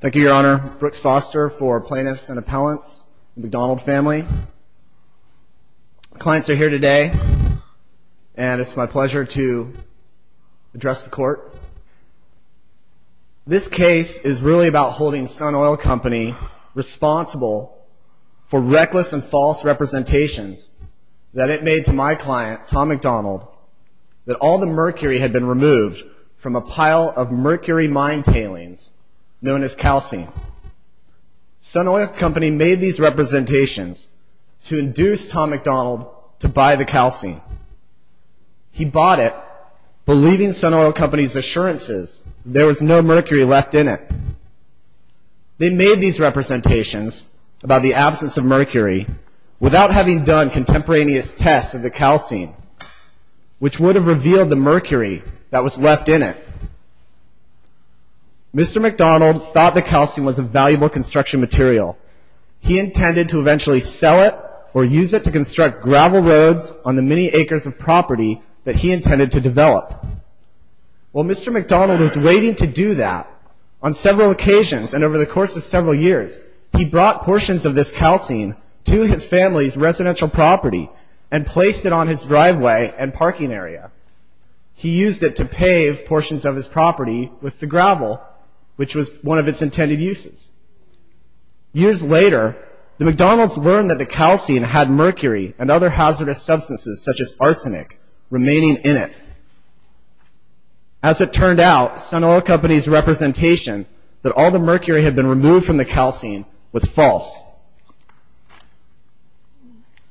Thank you, Your Honor. Brooks Foster for Plaintiffs and Appellants, McDonald family. Clients are here today, and it's my pleasure to address the court. This case is really about holding Sun Oil Company responsible for reckless and false representations that it made to my client, Tom McDonald, that all the mercury had been removed from a pile of mercury mine tailings, known as calcine. Sun Oil Company made these representations to induce Tom McDonald to buy the calcine. He bought it, believing Sun Oil Company's assurances that there was no mercury left in it. They made these representations about the absence of mercury without having done contemporaneous tests of the calcine, which would have revealed the mercury that was left in it. Mr. McDonald thought the calcine was a valuable construction material. He intended to eventually sell it or use it to construct gravel roads on the many acres of property that he intended to develop. While Mr. McDonald was waiting to do that, on several occasions and over the course of several years, he brought portions of this calcine to his family's residential property and placed it on his driveway and parking area. He used it to pave portions of his property with the gravel, which was one of its intended uses. Years later, the McDonalds learned that the calcine had mercury and other hazardous substances, such as arsenic, remaining in it. As it turned out, Sun Oil Company's representation that all the mercury had been removed from the calcine was false.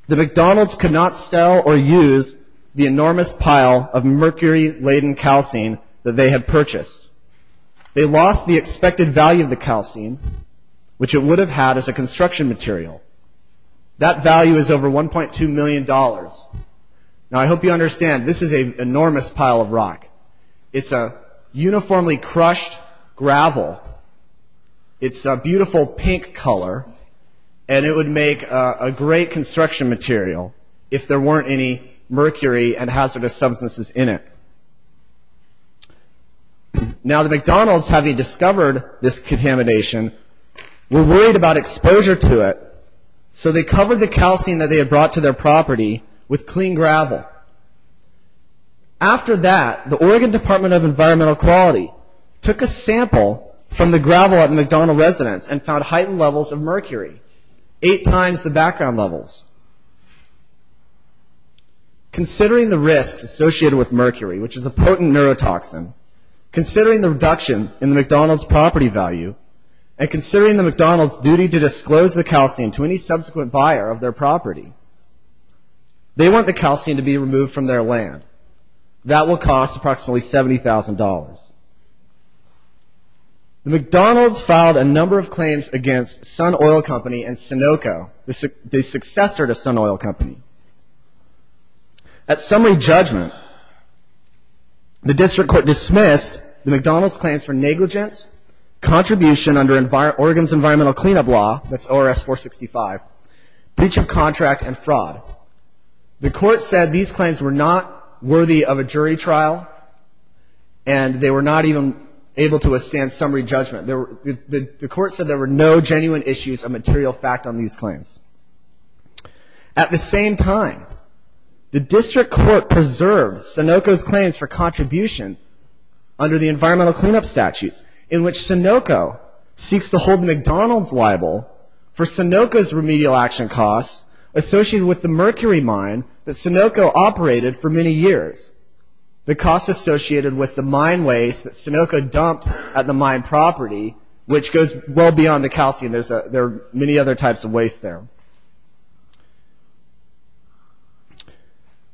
The McDonalds could not sell or use the enormous pile of mercury-laden calcine that they had purchased. They lost the expected value of the calcine, which it would have had as a construction material. That value is over $1.2 million. Now, I hope you understand, this is an enormous pile of rock. It's a uniformly crushed gravel. It's a beautiful pink color, and it would make a great construction material if there weren't any mercury and hazardous substances in it. Now, the McDonalds, having discovered this contamination, were worried about exposure to it, so they covered the calcine that they had brought to their property with clean gravel. After that, the Oregon Department of Environmental Quality took a sample from the gravel at a McDonald residence and found heightened levels of mercury, eight times the background levels. Considering the risks associated with mercury, which is a potent neurotoxin, considering the reduction in the McDonalds' property value, and considering the McDonalds' duty to disclose the calcine to any subsequent buyer of their property, they want the calcine to be removed from their land. That will cost approximately $70,000. The McDonalds filed a number of claims against Sun Oil Company and Sunoco, the successor to Sun Oil Company. At summary judgment, the district court dismissed the McDonalds' claims for negligence, contribution under Oregon's Environmental Cleanup Law, that's ORS 465, breach of contract, and fraud. The court said these claims were not worthy of a jury trial, and they were not even able to withstand summary judgment. The court said there were no genuine issues of material fact on these claims. At the same time, the district court preserved Sunoco's claims for contribution under the Environmental Cleanup Statutes, in which Sunoco seeks to hold McDonalds liable for Sunoco's remedial action costs associated with the mercury mine that Sunoco operated for many years, the costs associated with the mine waste that Sunoco dumped at the mine property, which goes well beyond the calcine. There are many other types of waste there.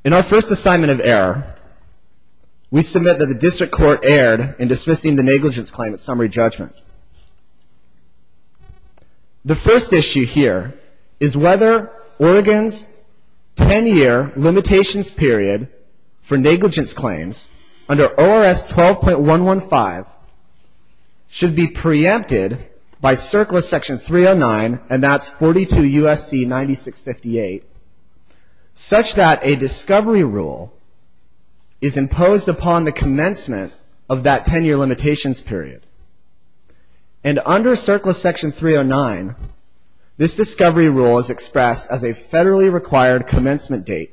In our first assignment of error, we submit that the district court erred in dismissing the negligence claim at summary judgment. The first issue here is whether Oregon's 10-year limitations period for negligence claims under ORS 12.115 should be preempted by CERCLA Section 309, and that's 42 U.S.C. 9658, such that a discovery rule is imposed upon the commencement of that 10-year limitations period. And under CERCLA Section 309, this discovery rule is expressed as a federally required commencement date.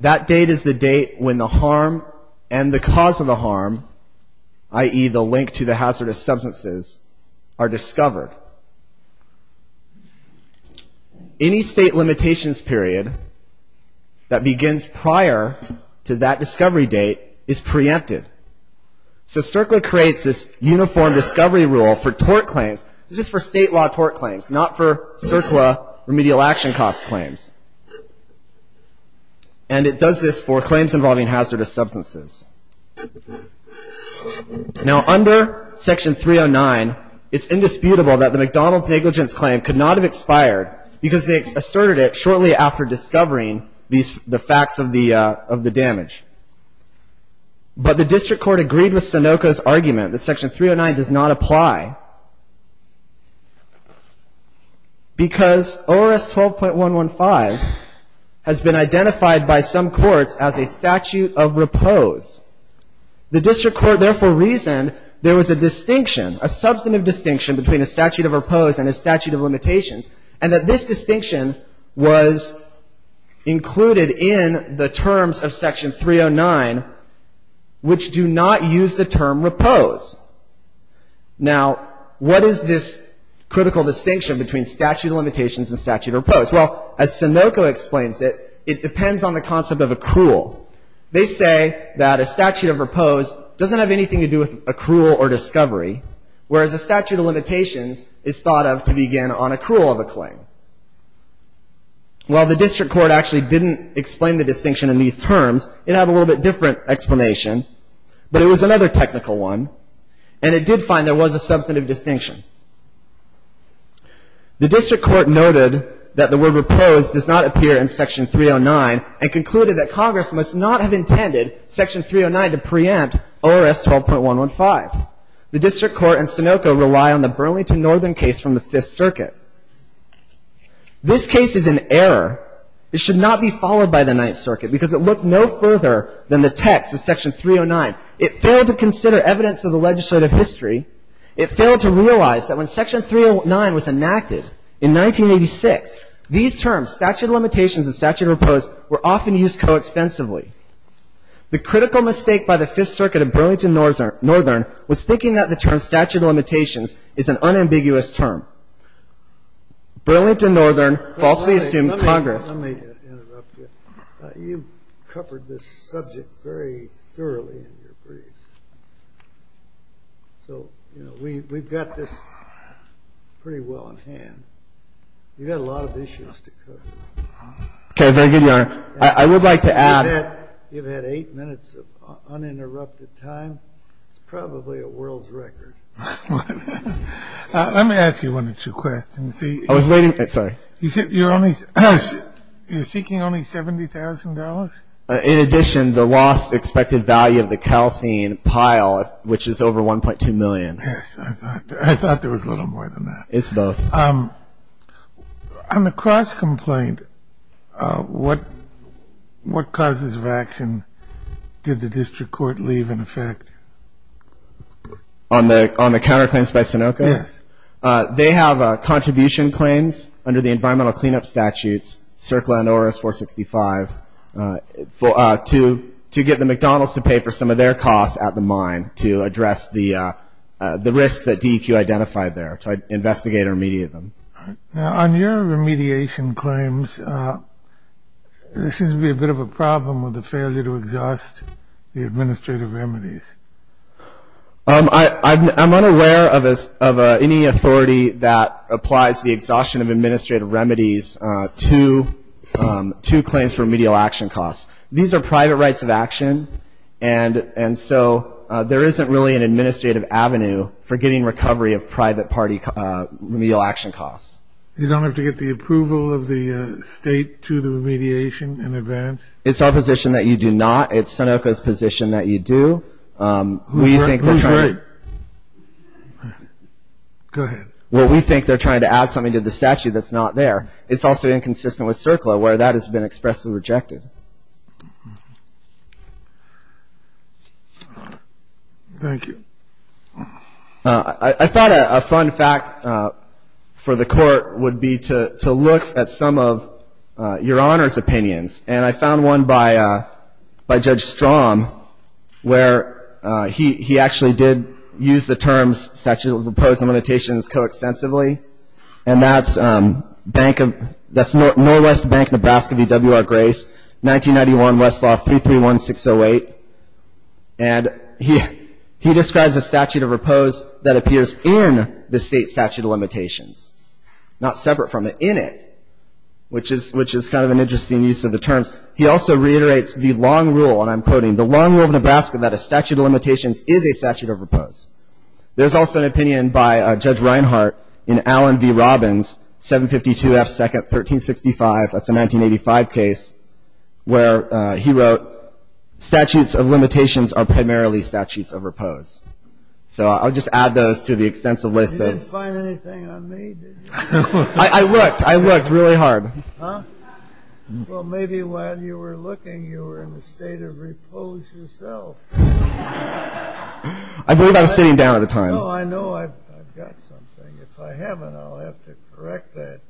That date is the date when the harm and the cause of the harm, i.e., the link to the hazardous substances, are discovered. Any state limitations period that begins prior to that discovery date is preempted. So CERCLA creates this uniform discovery rule for tort claims. This is for state law tort claims, not for CERCLA remedial action cost claims. And it does this for claims involving hazardous substances. Now, under Section 309, it's indisputable that the McDonald's negligence claim could not have expired because they asserted it shortly after discovering the facts of the damage. But the district court agreed with Sunoco's argument that Section 309 does not apply because ORS 12.115 has been identified by some courts as a statute of repose. The district court therefore reasoned there was a distinction, a substantive distinction between a statute of repose and a statute of limitations, and that this distinction was included in the terms of Section 309, which do not use the term repose. Now, what is this critical distinction between statute of limitations and statute of repose? Well, as Sunoco explains it, it depends on the concept of accrual. They say that a statute of repose doesn't have anything to do with accrual or discovery, whereas a statute of limitations is thought of to begin on accrual of a claim. While the district court actually didn't explain the distinction in these terms, it had a little bit different explanation, but it was another technical one, and it did find there was a substantive distinction. The district court noted that the word repose does not appear in Section 309 and concluded that Congress must not have intended Section 309 to preempt ORS 12.115. The district court and Sunoco rely on the Burlington Northern case from the Fifth Circuit. This case is in error. It should not be followed by the Ninth Circuit because it looked no further than the text in Section 309. It failed to consider evidence of the legislative history. It failed to realize that when Section 309 was enacted in 1986, these terms, statute of limitations and statute of repose, were often used coextensively. The critical mistake by the Fifth Circuit of Burlington Northern was thinking that the term statute of limitations is an unambiguous term. Burlington Northern falsely assumed Congress. Let me interrupt you. You've covered this subject very thoroughly in your briefs. So, you know, we've got this pretty well in hand. You've got a lot of issues to cover. Okay, very good, Your Honor. I would like to add. You've had eight minutes of uninterrupted time. It's probably a world's record. Let me ask you one or two questions. I was waiting. Sorry. You're seeking only $70,000? In addition, the lost expected value of the calcine pile, which is over $1.2 million. Yes, I thought there was a little more than that. It's both. On the Cross complaint, what causes of action did the district court leave in effect? On the counterclaims by Sunoco? Yes. They have contribution claims under the environmental cleanup statutes, CERCLA and ORS 465, to get the McDonald's to pay for some of their costs at the mine to address the risks that DEQ identified there, to investigate or remediate them. Now, on your remediation claims, there seems to be a bit of a problem with the failure to exhaust the administrative remedies. I'm unaware of any authority that applies the exhaustion of administrative remedies to claims for remedial action costs. These are private rights of action, and so there isn't really an administrative avenue for getting recovery of private party remedial action costs. You don't have to get the approval of the state to the remediation in advance? It's our position that you do not. It's Sunoco's position that you do. Who's right? Go ahead. Well, we think they're trying to add something to the statute that's not there. It's also inconsistent with CERCLA, where that has been expressly rejected. Thank you. I thought a fun fact for the Court would be to look at some of Your Honor's opinions, and I found one by Judge Strom, where he actually did use the terms statute of opposing limitations coextensively, and that's Norwest Bank, Nebraska v. W.R. Grace, 1991, Westlaw 331608. And he describes a statute of oppose that appears in the state statute of limitations, not separate from it, in it, which is kind of an interesting use of the terms. He also reiterates the long rule, and I'm quoting, the long rule of Nebraska that a statute of limitations is a statute of oppose. There's also an opinion by Judge Reinhart in Allen v. Robbins, 752 F. Second, 1365. That's a 1985 case where he wrote, statutes of limitations are primarily statutes of oppose. So I'll just add those to the extensive list. You didn't find anything on me, did you? I looked. I looked really hard. Well, maybe while you were looking, you were in the state of oppose yourself. I believe I was sitting down at the time. No, I know I've got something. If I haven't, I'll have to correct that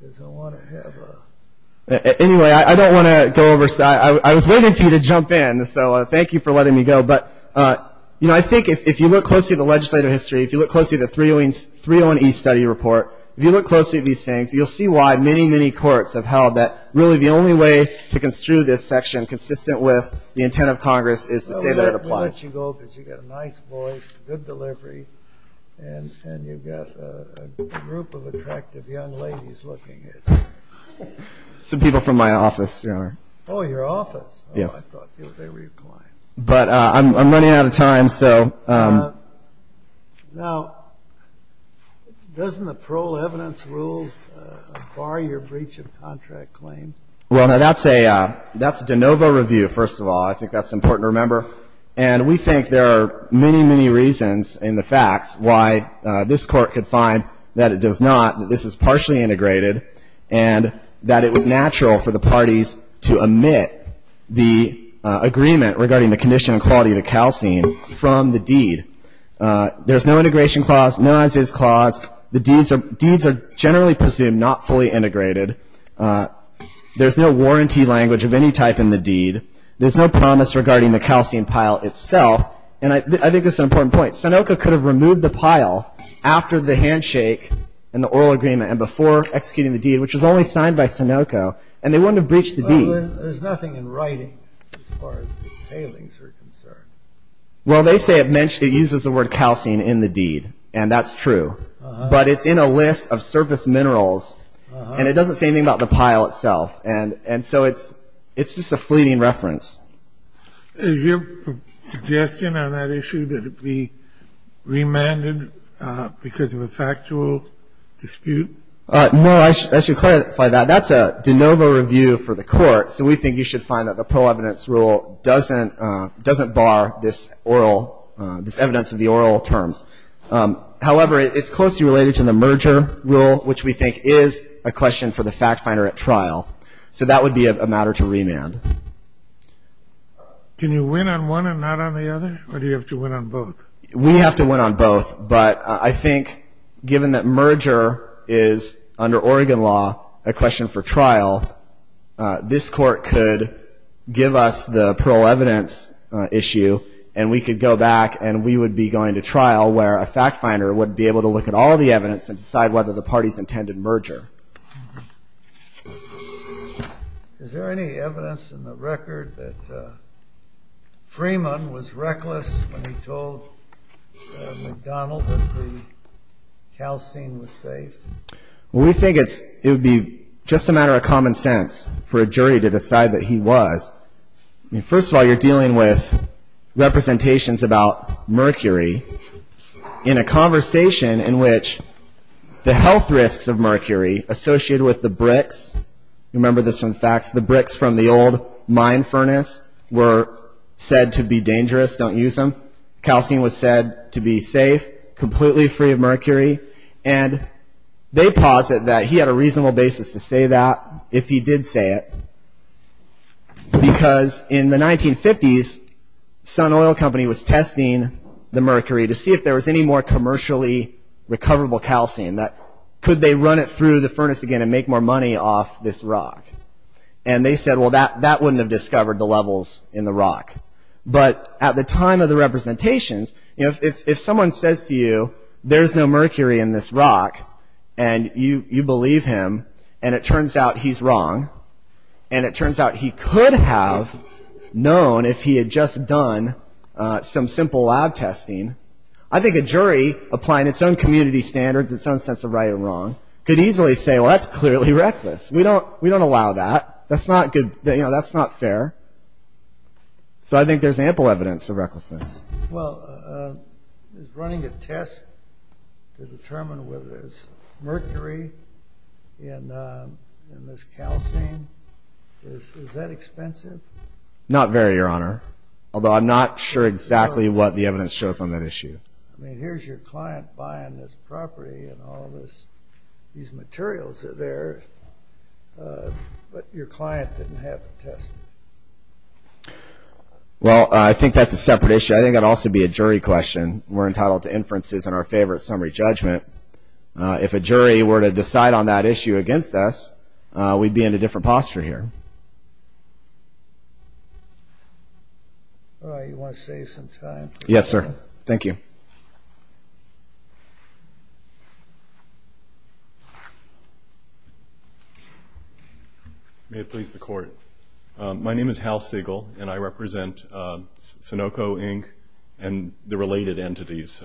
because I want to have a... Anyway, I don't want to go over. I was waiting for you to jump in, so thank you for letting me go. But, you know, I think if you look closely at the legislative history, if you look closely at the 301E study report, if you look closely at these things, you'll see why many, many courts have held that really the only way to construe this section consistent with the intent of Congress is to say that it applies. Let me let you go because you've got a nice voice, good delivery, and you've got a group of attractive young ladies looking at you. Some people from my office, Your Honor. Oh, your office. Yes. I thought they were your clients. But I'm running out of time, so... Now, doesn't the parole evidence rule bar your breach of contract claim? Well, now, that's a de novo review, first of all. I think that's important to remember. And we think there are many, many reasons in the facts why this Court could find that it does not, that this is partially integrated, and that it was natural for the parties to omit the agreement regarding the condition and quality of the calcine from the deed. There's no integration clause, no non-status clause. The deeds are generally presumed not fully integrated. There's no warranty language of any type in the deed. There's no promise regarding the calcine pile itself. And I think that's an important point. Sunoco could have removed the pile after the handshake and the oral agreement and before executing the deed, which was only signed by Sunoco, and they wouldn't have breached the deed. There's nothing in writing as far as the tailings are concerned. Well, they say it uses the word calcine in the deed, and that's true. But it's in a list of surface minerals, and it doesn't say anything about the pile itself. And so it's just a fleeting reference. Is your suggestion on that issue that it be remanded because of a factual dispute? No. I should clarify that. That's a de novo review for the Court, so we think you should find that the Pro Evidence Rule doesn't bar this oral, this evidence of the oral terms. However, it's closely related to the merger rule, which we think is a question for the fact finder at trial. So that would be a matter to remand. Can you win on one and not on the other, or do you have to win on both? We have to win on both. But I think given that merger is, under Oregon law, a question for trial, this Court could give us the Pro Evidence issue, and we could go back and we would be going to trial where a fact finder would be able to look at all the evidence and decide whether the parties intended merger. Is there any evidence in the record that Freeman was reckless when he told McDonald that the calcine was safe? We think it would be just a matter of common sense for a jury to decide that he was. First of all, you're dealing with representations about mercury in a conversation in which the health risks of mercury associated with the bricks. Remember this from the facts. The bricks from the old mine furnace were said to be dangerous. Don't use them. Calcine was said to be safe, completely free of mercury. And they posit that he had a reasonable basis to say that if he did say it, because in the 1950s, Sun Oil Company was testing the mercury to see if there was any more commercially recoverable calcine. Could they run it through the furnace again and make more money off this rock? And they said, well, that wouldn't have discovered the levels in the rock. But at the time of the representations, if someone says to you, there's no mercury in this rock, and you believe him, and it turns out he's wrong, and it turns out he could have known if he had just done some simple lab testing, I think a jury, applying its own community standards, its own sense of right and wrong, could easily say, well, that's clearly reckless. We don't allow that. That's not good. That's not fair. So I think there's ample evidence of recklessness. Well, is running a test to determine whether there's mercury in this calcine, is that expensive? Not very, Your Honor, although I'm not sure exactly what the evidence shows on that issue. I mean, here's your client buying this property, and all these materials are there, but your client didn't have a test. Well, I think that's a separate issue. I think that would also be a jury question. We're entitled to inferences in our favor of summary judgment. If a jury were to decide on that issue against us, we'd be in a different posture here. All right. You want to save some time? Yes, sir. Thank you. May it please the Court. My name is Hal Siegel, and I represent Sunoco, Inc., and the related entities,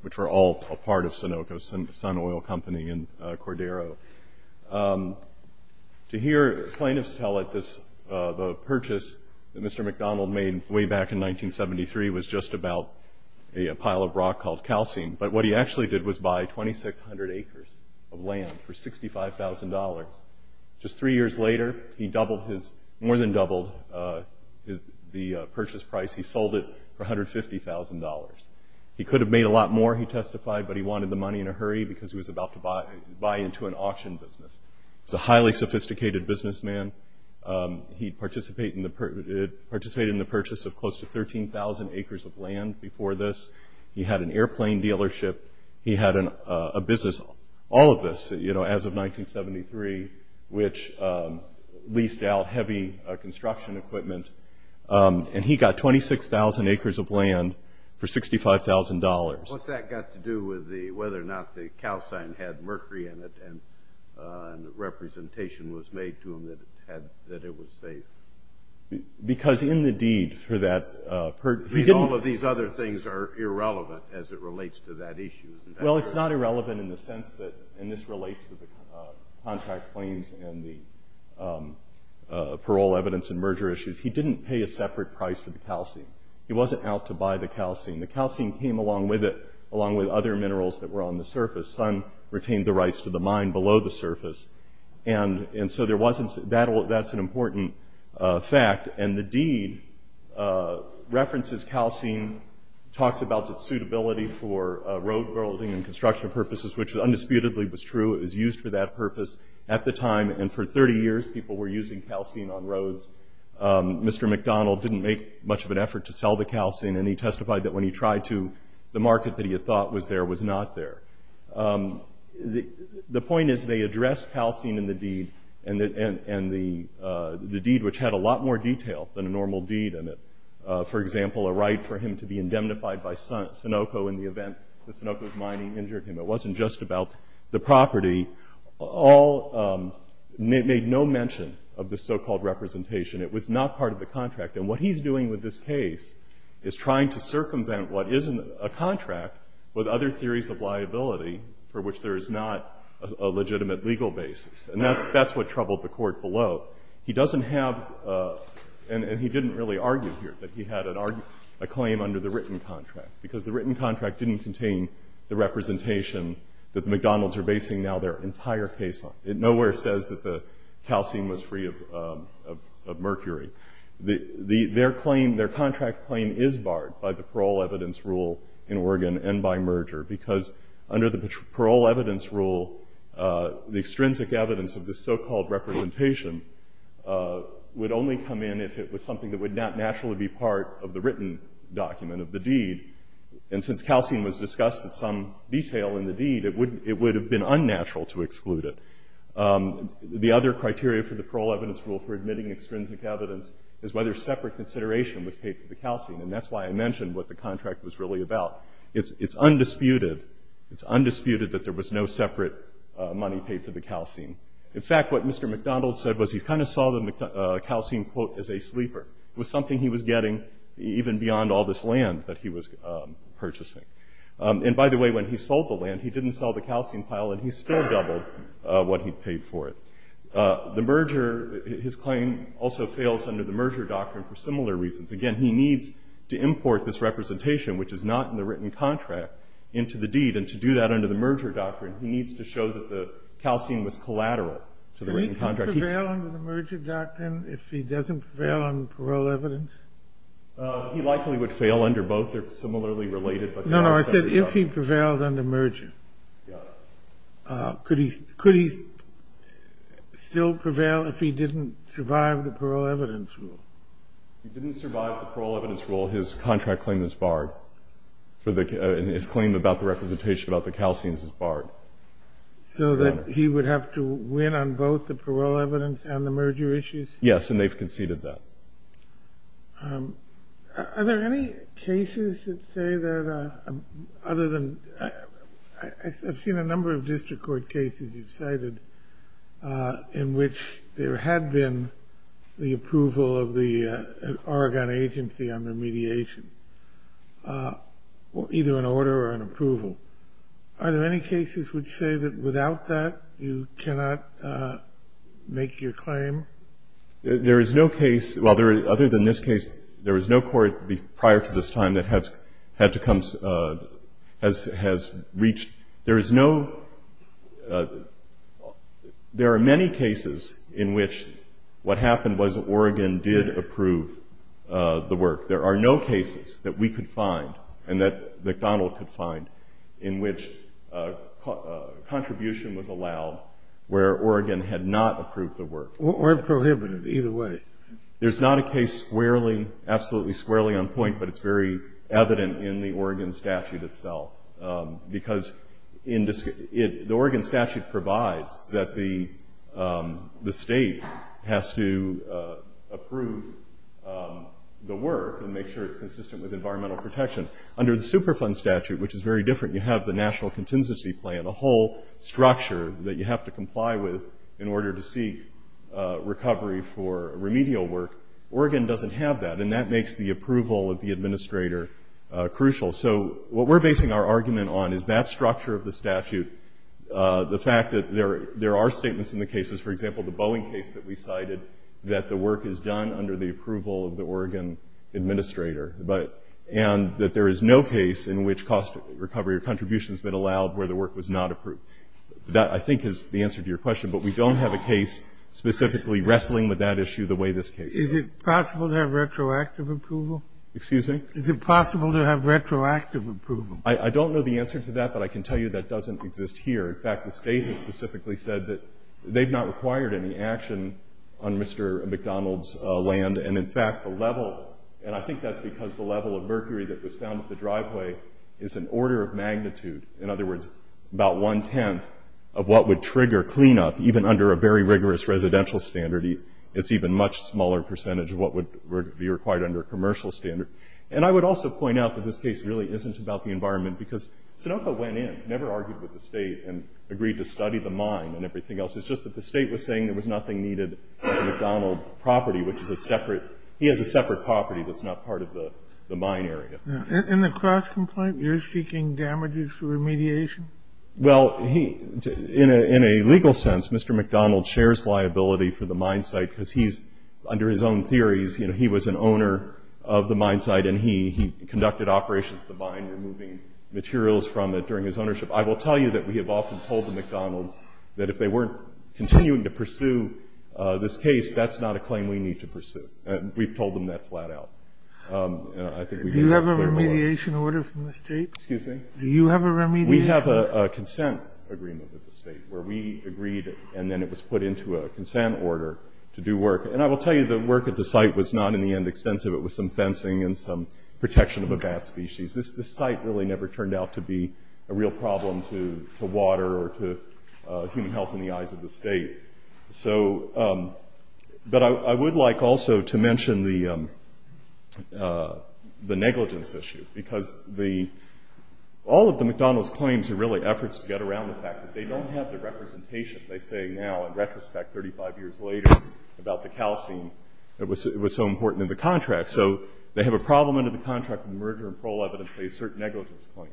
which are all a part of Sunoco, Sun Oil Company in Cordero. To hear plaintiffs tell us the purchase that Mr. McDonald made way back in 1973 was just about a pile of rock called calcine, but what he actually did was buy 2,600 acres of land for $65,000. Just three years later, he more than doubled the purchase price. He sold it for $150,000. He could have made a lot more, he testified, but he wanted the money in a hurry because he was about to buy into an auction business. He was a highly sophisticated businessman. He participated in the purchase of close to 13,000 acres of land before this. He had an airplane dealership. He had a business, all of this, as of 1973, which leased out heavy construction equipment, and he got 26,000 acres of land for $65,000. What that got to do with whether or not the calcine had mercury in it and the representation was made to him that it was safe. Because in the deed for that, he didn't- All of these other things are irrelevant as it relates to that issue. Well, it's not irrelevant in the sense that, and this relates to the contract claims and the parole evidence and merger issues. He didn't pay a separate price for the calcine. He wasn't out to buy the calcine. The calcine came along with it, along with other minerals that were on the surface. The sun retained the rights to the mine below the surface, and so there wasn't- That's an important fact, and the deed references calcine, talks about its suitability for road building and construction purposes, which undisputedly was true. It was used for that purpose at the time, and for 30 years, people were using calcine on roads. Mr. McDonald didn't make much of an effort to sell the calcine, and he testified that when he tried to, the market that he had thought was there was not there. The point is they addressed calcine in the deed, and the deed, which had a lot more detail than a normal deed, and for example, a right for him to be indemnified by Sunoco in the event that Sunoco's mining injured him. It wasn't just about the property. All made no mention of the so-called representation. It was not part of the contract, and what he's doing with this case is trying to circumvent what is a contract with other theories of liability for which there is not a legitimate legal basis, and that's what troubled the court below. He doesn't have, and he didn't really argue here that he had a claim under the written contract, because the written contract didn't contain the representation that the McDonalds are basing now their entire case on. It nowhere says that the calcine was free of mercury. Their contract claim is barred by the parole evidence rule in Oregon and by merger, because under the parole evidence rule, the extrinsic evidence of the so-called representation would only come in if it was something that would not naturally be part of the written document of the deed, and since calcine was discussed in some detail in the deed, it would have been unnatural to exclude it. The other criteria for the parole evidence rule for admitting extrinsic evidence is whether separate consideration was paid for the calcine, and that's why I mentioned what the contract was really about. It's undisputed that there was no separate money paid for the calcine. In fact, what Mr. McDonald said was he kind of saw the calcine, quote, as a sleeper. It was something he was getting even beyond all this land that he was purchasing. And by the way, when he sold the land, he didn't sell the calcine pile, and he still doubled what he paid for it. The merger, his claim also fails under the merger doctrine for similar reasons. Again, he needs to import this representation, which is not in the written contract, into the deed, and to do that under the merger doctrine, he needs to show that the calcine was collateral to the written contract. Can he prevail under the merger doctrine if he doesn't prevail on parole evidence? He likely would fail under both. They're similarly related. No, no, I said if he prevails under merger. Yeah. Could he still prevail if he didn't survive the parole evidence rule? If he didn't survive the parole evidence rule, his contract claim is barred. His claim about the representation about the calcines is barred. So that he would have to win on both the parole evidence and the merger issues? Yes, and they've conceded that. Are there any cases that say that other than – I've seen a number of district court cases you've cited in which there had been the approval of the Oregon agency on remediation, either an order or an approval. Are there any cases which say that without that you cannot make your claim? There is no case – well, other than this case, there is no court prior to this time that has had to come – has reached – there is no – there are many cases in which what happened was Oregon did approve the work. There are no cases that we could find and that McDonald could find in which contribution was allowed where Oregon had not approved the work. Or prohibited, either way. There's not a case squarely, absolutely squarely on point, but it's very evident in the Oregon statute itself. Because the Oregon statute provides that the State has to approve the work and make sure it's consistent with environmental protection. Under the Superfund statute, which is very different, you have the National Contingency Plan, a whole structure that you have to comply with in order to seek recovery for remedial work. Oregon doesn't have that, and that makes the approval of the administrator crucial. So what we're basing our argument on is that structure of the statute, the fact that there are statements in the cases – for example, the Boeing case that we cited – that the work is done under the approval of the Oregon administrator, and that there is no case in which cost recovery or contribution has been allowed where the work was not approved. That, I think, is the answer to your question. But we don't have a case specifically wrestling with that issue the way this case does. Is it possible to have retroactive approval? Excuse me? Is it possible to have retroactive approval? I don't know the answer to that, but I can tell you that doesn't exist here. In fact, the State has specifically said that they've not required any action on Mr. McDonald's land. And, in fact, the level – and I think that's because the level of mercury that was found at the driveway is an order of magnitude – in other words, about one-tenth of what would trigger cleanup, even under a very rigorous residential standard. It's even a much smaller percentage of what would be required under a commercial standard. And I would also point out that this case really isn't about the environment, because Sunoco went in, never argued with the State, and agreed to study the mine and everything else. It's just that the State was saying there was nothing needed on the McDonald property, which is a separate – he has a separate property that's not part of the mine area. In the cross-complaint, you're seeking damages for remediation? Well, he – in a legal sense, Mr. McDonald shares liability for the mine site, because he's – under his own theories, you know, he was an owner of the mine site, and he conducted operations at the mine, removing materials from it during his ownership. I will tell you that we have often told the McDonalds that if they weren't continuing to pursue this case, that's not a claim we need to pursue. We've told them that flat out. Do you have a remediation order from the State? Excuse me? Do you have a remediation order? We have a consent agreement with the State, where we agreed, and then it was put into a consent order to do work. And I will tell you the work at the site was not, in the end, extensive. It was some fencing and some protection of a bat species. This site really never turned out to be a real problem to water or to human health in the eyes of the State. So – but I would like also to mention the negligence issue, because the – all of the McDonalds' claims are really efforts to get around the fact that they don't have the representation they say now, in retrospect, 35 years later, about the calcine that was so important in the contract. So they have a problem under the contract with merger and parole evidence. They assert negligence claims.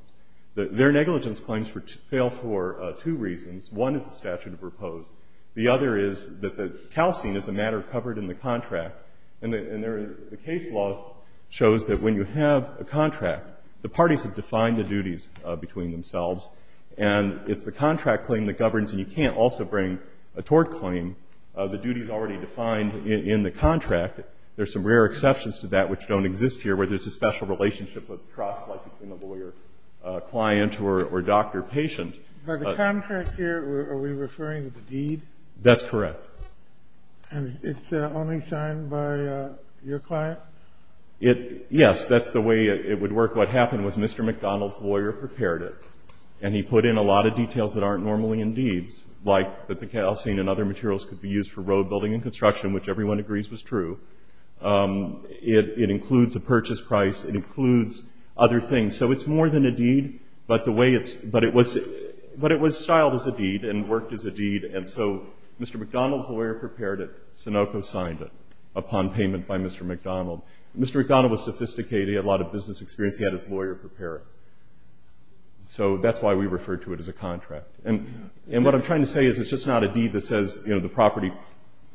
Their negligence claims fail for two reasons. One is the statute of repose. The other is that the calcine is a matter covered in the contract. And the case law shows that when you have a contract, the parties have defined the duties between themselves, and it's the contract claim that governs, and you can't also bring a tort claim. The duty is already defined in the contract. There are some rare exceptions to that which don't exist here, where there's a special relationship of trust, like between a lawyer, a client, or doctor, patient. But the contract here, are we referring to the deed? That's correct. And it's only signed by your client? Yes, that's the way it would work. What happened was Mr. McDonald's lawyer prepared it, and he put in a lot of details that aren't normally in deeds, like that the calcine and other materials could be used for road building and construction, which everyone agrees was true. It includes a purchase price. It includes other things. So it's more than a deed, but it was styled as a deed and worked as a deed. And so Mr. McDonald's lawyer prepared it. Sunoco signed it upon payment by Mr. McDonald. Mr. McDonald was sophisticated. He had a lot of business experience. He had his lawyer prepare it. So that's why we refer to it as a contract. And what I'm trying to say is it's just not a deed that says the property,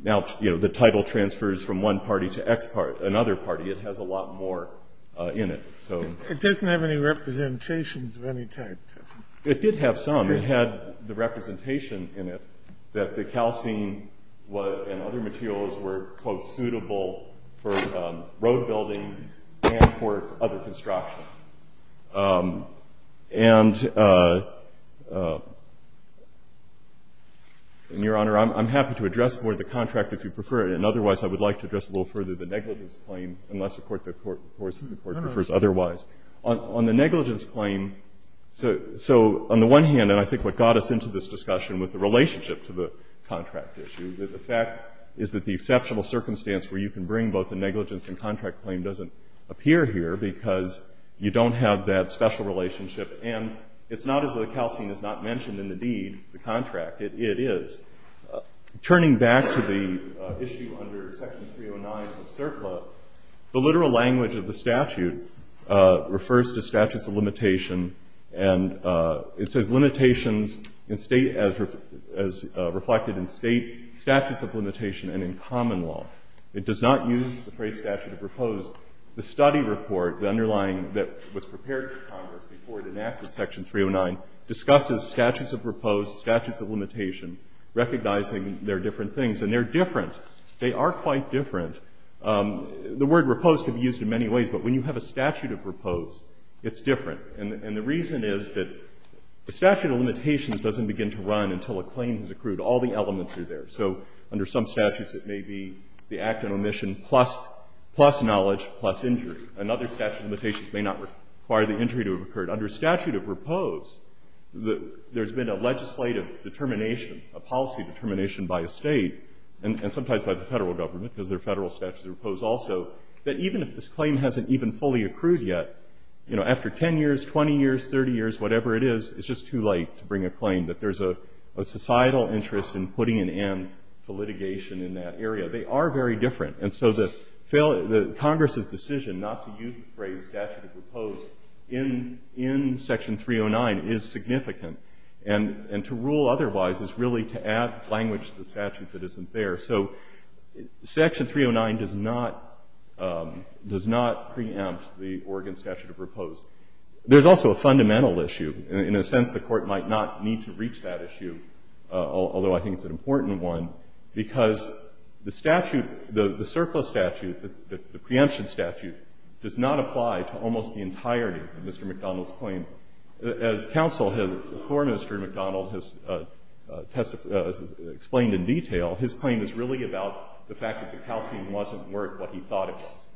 now the title transfers from one party to another party. It has a lot more in it. It doesn't have any representations of any type, does it? It did have some. It had the representation in it that the calcine and other materials were, quote, suitable for road building and for other construction. And, Your Honor, I'm happy to address more of the contract if you prefer it. And otherwise, I would like to address a little further the negligence claim, unless the court prefers otherwise. On the negligence claim, so on the one hand, and I think what got us into this discussion was the relationship to the contract issue. The fact is that the exceptional circumstance where you can bring both you don't have that special relationship. And it's not as though the calcine is not mentioned in the deed, the contract. It is. Turning back to the issue under Section 309 of CERCLA, the literal language of the statute refers to statutes of limitation. And it says, Limitations as reflected in state statutes of limitation and in common law. It does not use the phrase statute to propose the study report, the underlying that was prepared for Congress before it enacted Section 309, discusses statutes of repose, statutes of limitation, recognizing they're different things. And they're different. They are quite different. The word repose can be used in many ways, but when you have a statute of repose, it's different. And the reason is that the statute of limitations doesn't begin to run until a claim is accrued. All the elements are there. So under some statutes, it may be the act of omission plus knowledge, plus injury. And other statute of limitations may not require the injury to have occurred. Under statute of repose, there's been a legislative determination, a policy determination by a state, and sometimes by the federal government, because there are federal statutes of repose also, that even if this claim hasn't even fully accrued yet, after 10 years, 20 years, 30 years, whatever it is, it's just too late to bring a claim that there's a societal interest in putting an end to litigation in that area. They are very different. And so Congress's decision not to use the phrase statute of repose in Section 309 is significant. And to rule otherwise is really to add language to the statute that isn't there. So Section 309 does not preempt the Oregon statute of repose. There's also a fundamental issue. In a sense, the Court might not need to reach that issue, although I think it's an important one, because the statute, the surplus statute, the preemption statute does not apply to almost the entirety of Mr. McDonald's claim. As counsel for Mr. McDonald has explained in detail, his claim is really about the fact that the calcine wasn't worth what he thought it was.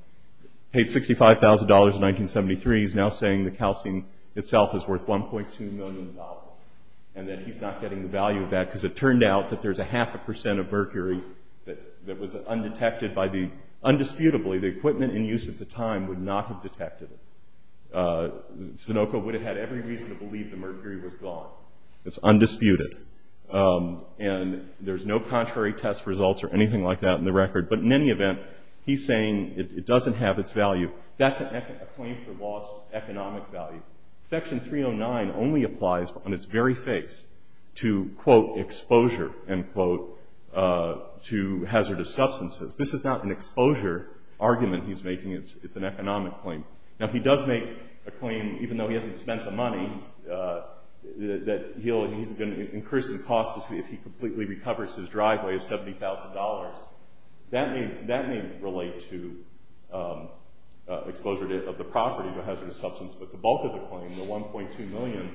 Paid $65,000 in 1973, he's now saying the calcine itself is worth $1.2 million and that he's not getting the value of that because it turned out that there's a half a percent of mercury that was undetected by the undisputably, the equipment in use at the time would not have detected it. Sunoco would have had every reason to believe the mercury was gone. It's undisputed. And there's no contrary test results or anything like that in the record. But in any event, he's saying it doesn't have its value. That's a claim for lost economic value. Section 309 only applies on its very face to, quote, exposure, end quote, to hazardous substances. This is not an exposure argument he's making. It's an economic claim. Now, he does make a claim, even though he hasn't spent the money, that he's going to increase the cost if he completely recovers his driveway of $70,000. That may relate to exposure of the property to a hazardous substance, but the bulk of the claim, the $1.2 million,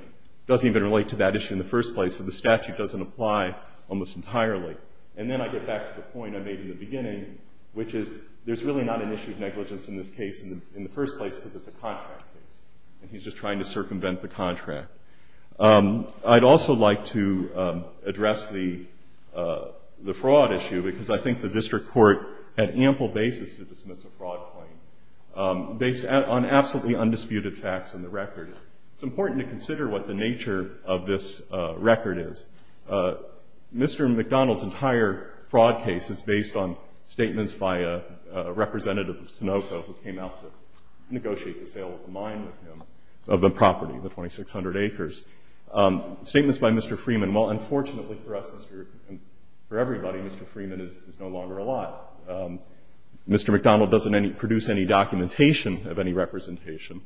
doesn't even relate to that issue in the first place. So the statute doesn't apply almost entirely. And then I get back to the point I made in the beginning, which is there's really not an issue of negligence in this case in the first place because it's a contract case. And he's just trying to circumvent the contract. I'd also like to address the fraud issue because I think the district court had ample basis to dismiss a fraud claim based on absolutely undisputed facts in the record. It's important to consider what the nature of this record is. Mr. McDonald's entire fraud case is based on statements by a representative of Sunoco who came out to negotiate the sale of the mine with him of the property, the 2,600 acres. Statements by Mr. Freeman, well, unfortunately for us and for everybody, Mr. Freeman is no longer alive. Mr. McDonald doesn't produce any documentation of any representation.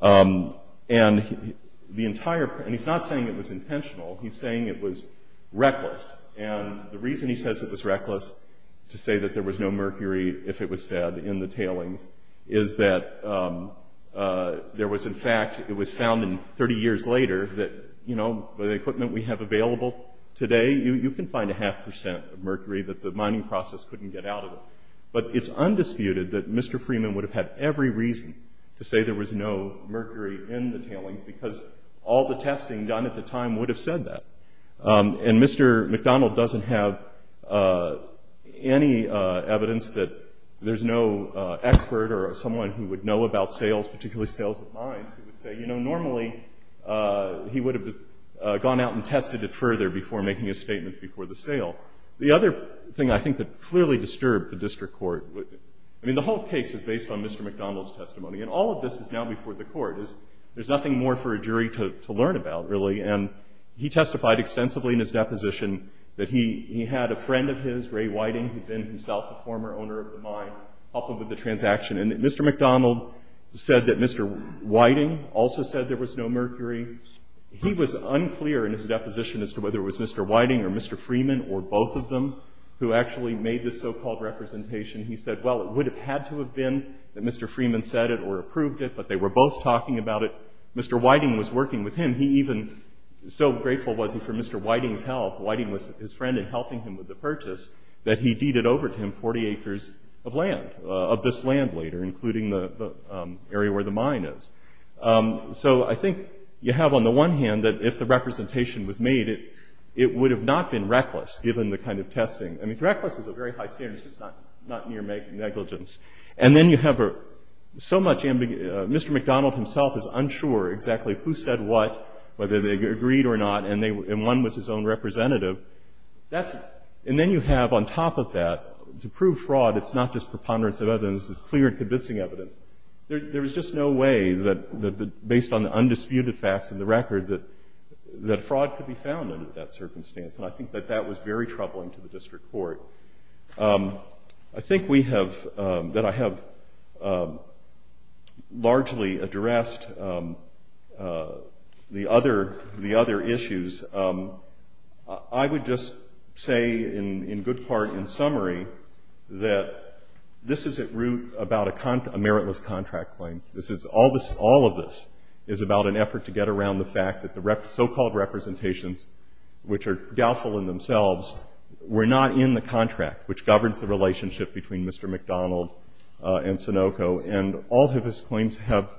And he's not saying it was intentional. He's saying it was reckless. And the reason he says it was reckless to say that there was no mercury if it was said in the tailings is that there was, in fact, it was found 30 years later that, you know, with the equipment we have available today, you can find a half percent of mercury that the mining process couldn't get out of it. But it's undisputed that Mr. Freeman would have had every reason to say there was no mercury in the tailings, because all the testing done at the time would have said that. And Mr. McDonald doesn't have any evidence that there's no expert or someone who would know about sales, particularly sales of mines, who would say, you know, normally he would have gone out and tested it further before making a statement before the sale. The other thing I think that clearly disturbed the district court, I mean, the whole case is based on Mr. McDonald's testimony. And all of this is now before the court. There's nothing more for a jury to learn about, really. And he testified extensively in his deposition that he had a friend of his, Ray Whiting, who'd been himself a former owner of the mine, help him with the transaction. And Mr. McDonald said that Mr. Whiting also said there was no mercury. He was unclear in his deposition as to whether it was Mr. Whiting or Mr. Freeman or both of them who actually made this so-called representation. He said, well, it would have had to have been that Mr. Freeman said it or approved it, but they were both talking about it. Mr. Whiting was working with him. He even, so grateful was he for Mr. Whiting's help, Whiting was his friend in helping him with the purchase, that he deeded over to him 40 acres of land, of this land later, including the area where the mine is. So I think you have on the one hand that if the representation was made, it would have not been reckless given the kind of testing. I mean, reckless is a very high standard. It's just not near negligence. And then you have so much ambiguity. Mr. McDonald himself is unsure exactly who said what, whether they agreed or not, and one was his own representative. And then you have on top of that, to prove fraud, it's not just preponderance of evidence. It's clear and convincing evidence. There was just no way that based on the undisputed facts in the record that fraud could be found under that circumstance. And I think that that was very troubling to the district court. I think we have, that I have largely addressed the other issues. I would just say in good part, in summary, that this is at root about a meritless contract claim. All of this is about an effort to get around the fact that the so-called representations, which are doubtful in themselves, were not in the contract, which governs the relationship between Mr. McDonald and Sunoco. And all of his claims have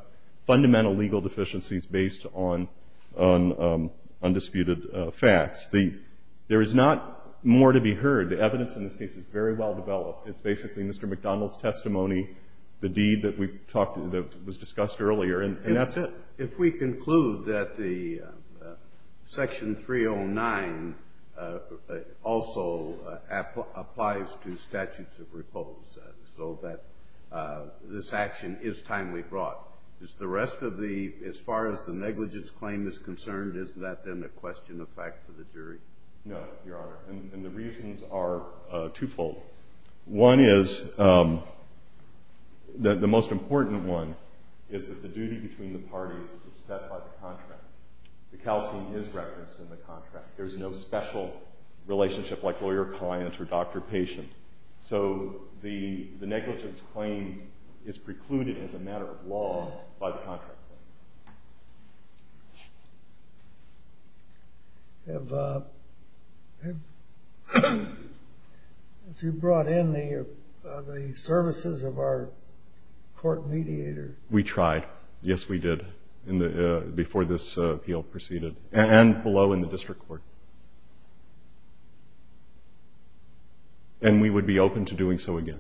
fundamental legal deficiencies based on undisputed facts. There is not more to be heard. The evidence in this case is very well developed. It's basically Mr. McDonald's testimony, the deed that was discussed earlier, and that's it. If we conclude that the Section 309 also applies to statutes of repose, so that this action is timely brought, is the rest of the, as far as the negligence claim is concerned, is that then a question of fact for the jury? No, Your Honor. And the reasons are twofold. One is that the most important one is that the duty between the parties is set by the contract. The calcium is referenced in the contract. There's no special relationship like lawyer-client or doctor-patient. So the negligence claim is precluded as a matter of law by the contract. Have you brought in the services of our court mediator? We tried. Yes, we did before this appeal proceeded and below in the district court. And we would be open to doing so again.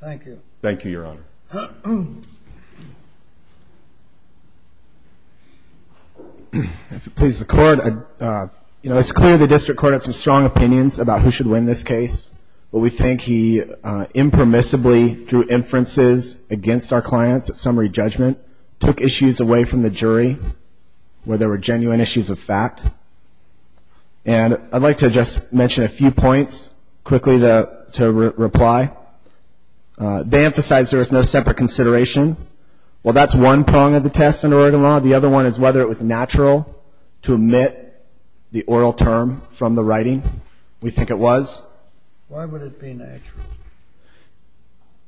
Thank you. Thank you, Your Honor. If it pleases the Court, it's clear the district court had some strong opinions about who should win this case. But we think he impermissibly drew inferences against our clients at summary judgment, took issues away from the jury where there were genuine issues of fact. And I'd like to just mention a few points quickly to reply. They emphasize there is no separate consideration. Well, that's one prong of the test in Oregon law. The other one is whether it was natural to omit the oral term from the writing. We think it was. Why would it be natural?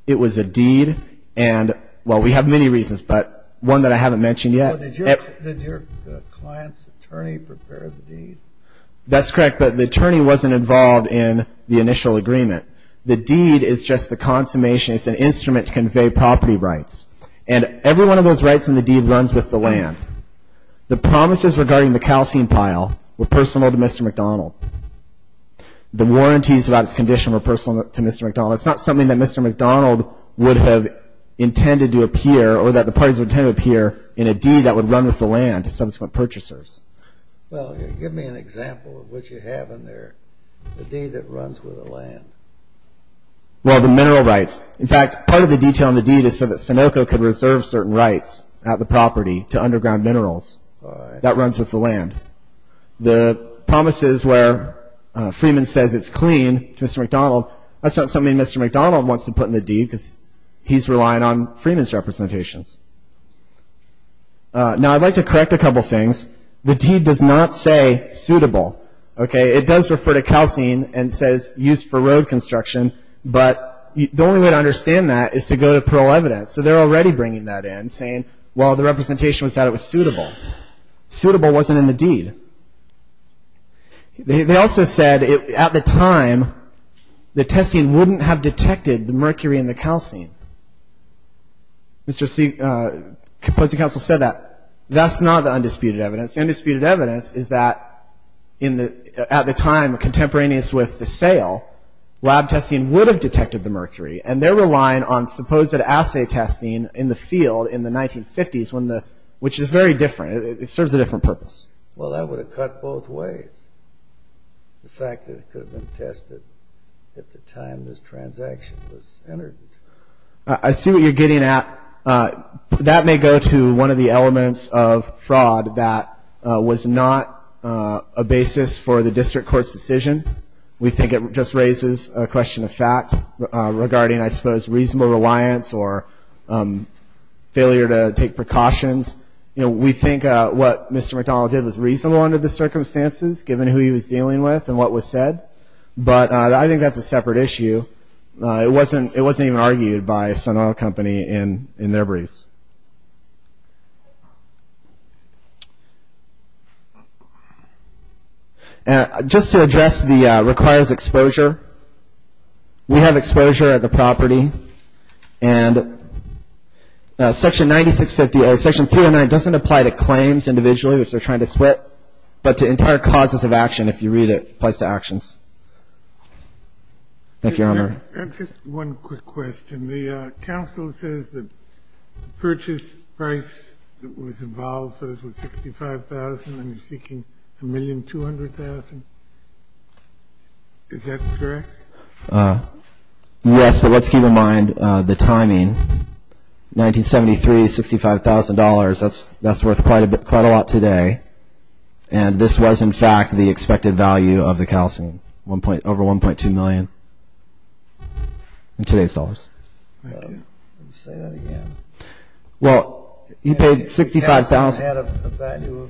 It was a deed and, well, we have many reasons, but one that I haven't mentioned yet. Did your client's attorney prepare the deed? That's correct, but the attorney wasn't involved in the initial agreement. The deed is just the consummation. It's an instrument to convey property rights. And every one of those rights in the deed runs with the land. The promises regarding the calcium pile were personal to Mr. McDonald. The warranties about his condition were personal to Mr. McDonald. It's not something that Mr. McDonald would have intended to appear or that the parties would have intended to appear in a deed that would run with the land to subsequent purchasers. Well, give me an example of what you have in there, the deed that runs with the land. Well, the mineral rights. In fact, part of the detail in the deed is so that Sunoco could reserve certain rights at the property to underground minerals. That runs with the land. The promises where Freeman says it's clean to Mr. McDonald, that's not something Mr. McDonald wants to put in the deed because he's relying on Freeman's representations. Now, I'd like to correct a couple things. The deed does not say suitable. It does refer to calcine and says used for road construction, but the only way to understand that is to go to parole evidence. So they're already bringing that in, saying, well, the representation said it was suitable. Suitable wasn't in the deed. They also said at the time the testing wouldn't have detected the mercury in the calcine. Mr. Composite Counsel said that. That's not the undisputed evidence. The undisputed evidence is that at the time, contemporaneous with the sale, lab testing would have detected the mercury, and they're relying on supposed assay testing in the field in the 1950s, which is very different. It serves a different purpose. Well, that would have cut both ways, the fact that it could have been tested at the time this transaction was entered. I see what you're getting at. That may go to one of the elements of fraud that was not a basis for the district court's decision. We think it just raises a question of fact regarding, I suppose, reasonable reliance or failure to take precautions. We think what Mr. McDonald did was reasonable under the circumstances, given who he was dealing with and what was said, but I think that's a separate issue. It wasn't even argued by Sun Oil Company in their briefs. Just to address the requires exposure, we have exposure at the property, and Section 309 doesn't apply to claims individually, which they're trying to split, but to entire causes of action if you read it, applies to actions. Thank you, Your Honor. Just one quick question. The counsel says the purchase price that was involved for this was $65,000, and you're seeking $1,200,000. Is that correct? Yes, but let's keep in mind the timing. 1973, $65,000, that's worth quite a lot today, and this was, in fact, the expected value of the calcine, over $1.2 million in today's dollars. Let me say that again. Well, you paid $65,000. The calcine had a value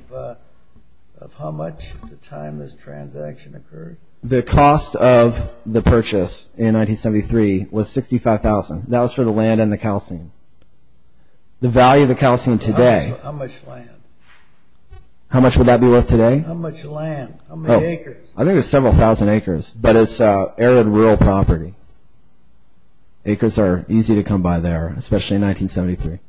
of how much at the time this transaction occurred. The cost of the purchase in 1973 was $65,000. That was for the land and the calcine. The value of the calcine today. How much land? How much would that be worth today? How much land? How many acres? I think it's several thousand acres, but it's arid rural property. Acres are easy to come by there, especially in 1973.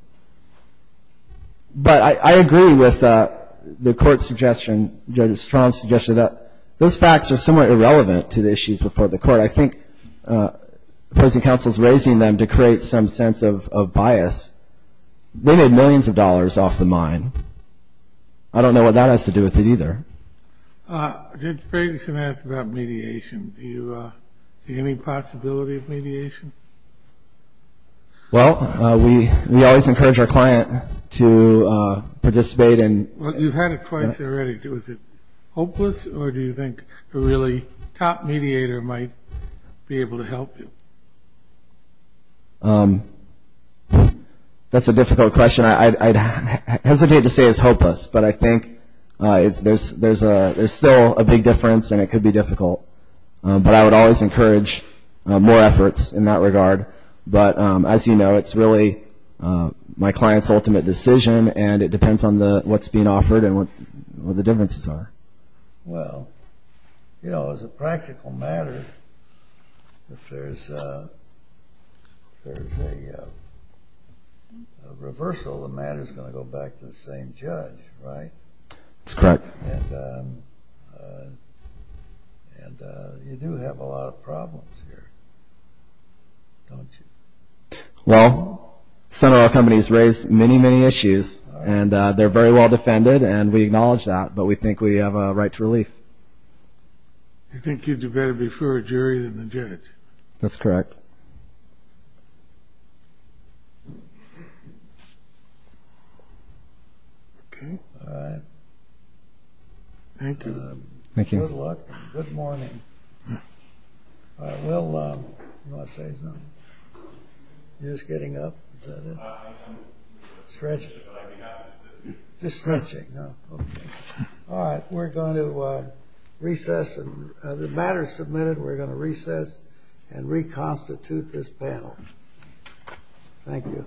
But I agree with the court's suggestion, Judge Strom's suggestion, that those facts are somewhat irrelevant to the issues before the court. But I think opposing counsel is raising them to create some sense of bias. They made millions of dollars off the mine. I don't know what that has to do with it, either. Judge Ferguson asked about mediation. Do you see any possibility of mediation? Well, we always encourage our client to participate. Well, you've had it twice already. Is it hopeless, or do you think a really top mediator might be able to help you? That's a difficult question. I'd hesitate to say it's hopeless, but I think there's still a big difference, and it could be difficult. But I would always encourage more efforts in that regard. But as you know, it's really my client's ultimate decision, and it depends on what's being offered and what the differences are. Well, you know, as a practical matter, if there's a reversal, the matter's going to go back to the same judge, right? That's correct. And you do have a lot of problems here, don't you? Well, Sun Oil Company's raised many, many issues, and they're very well defended, and we acknowledge that, but we think we have a right to relief. You think you'd do better before a jury than the judge? That's correct. Okay. All right. Thank you. Thank you. Good luck. Good morning. All right. Will, you want to say something? You're just getting up. Is that it? I'm stretching, but I think I'm going to sit here. Just stretching. Oh, okay. All right. We're going to recess, and the matter's submitted. We're going to recess and reconstitute this panel. Thank you.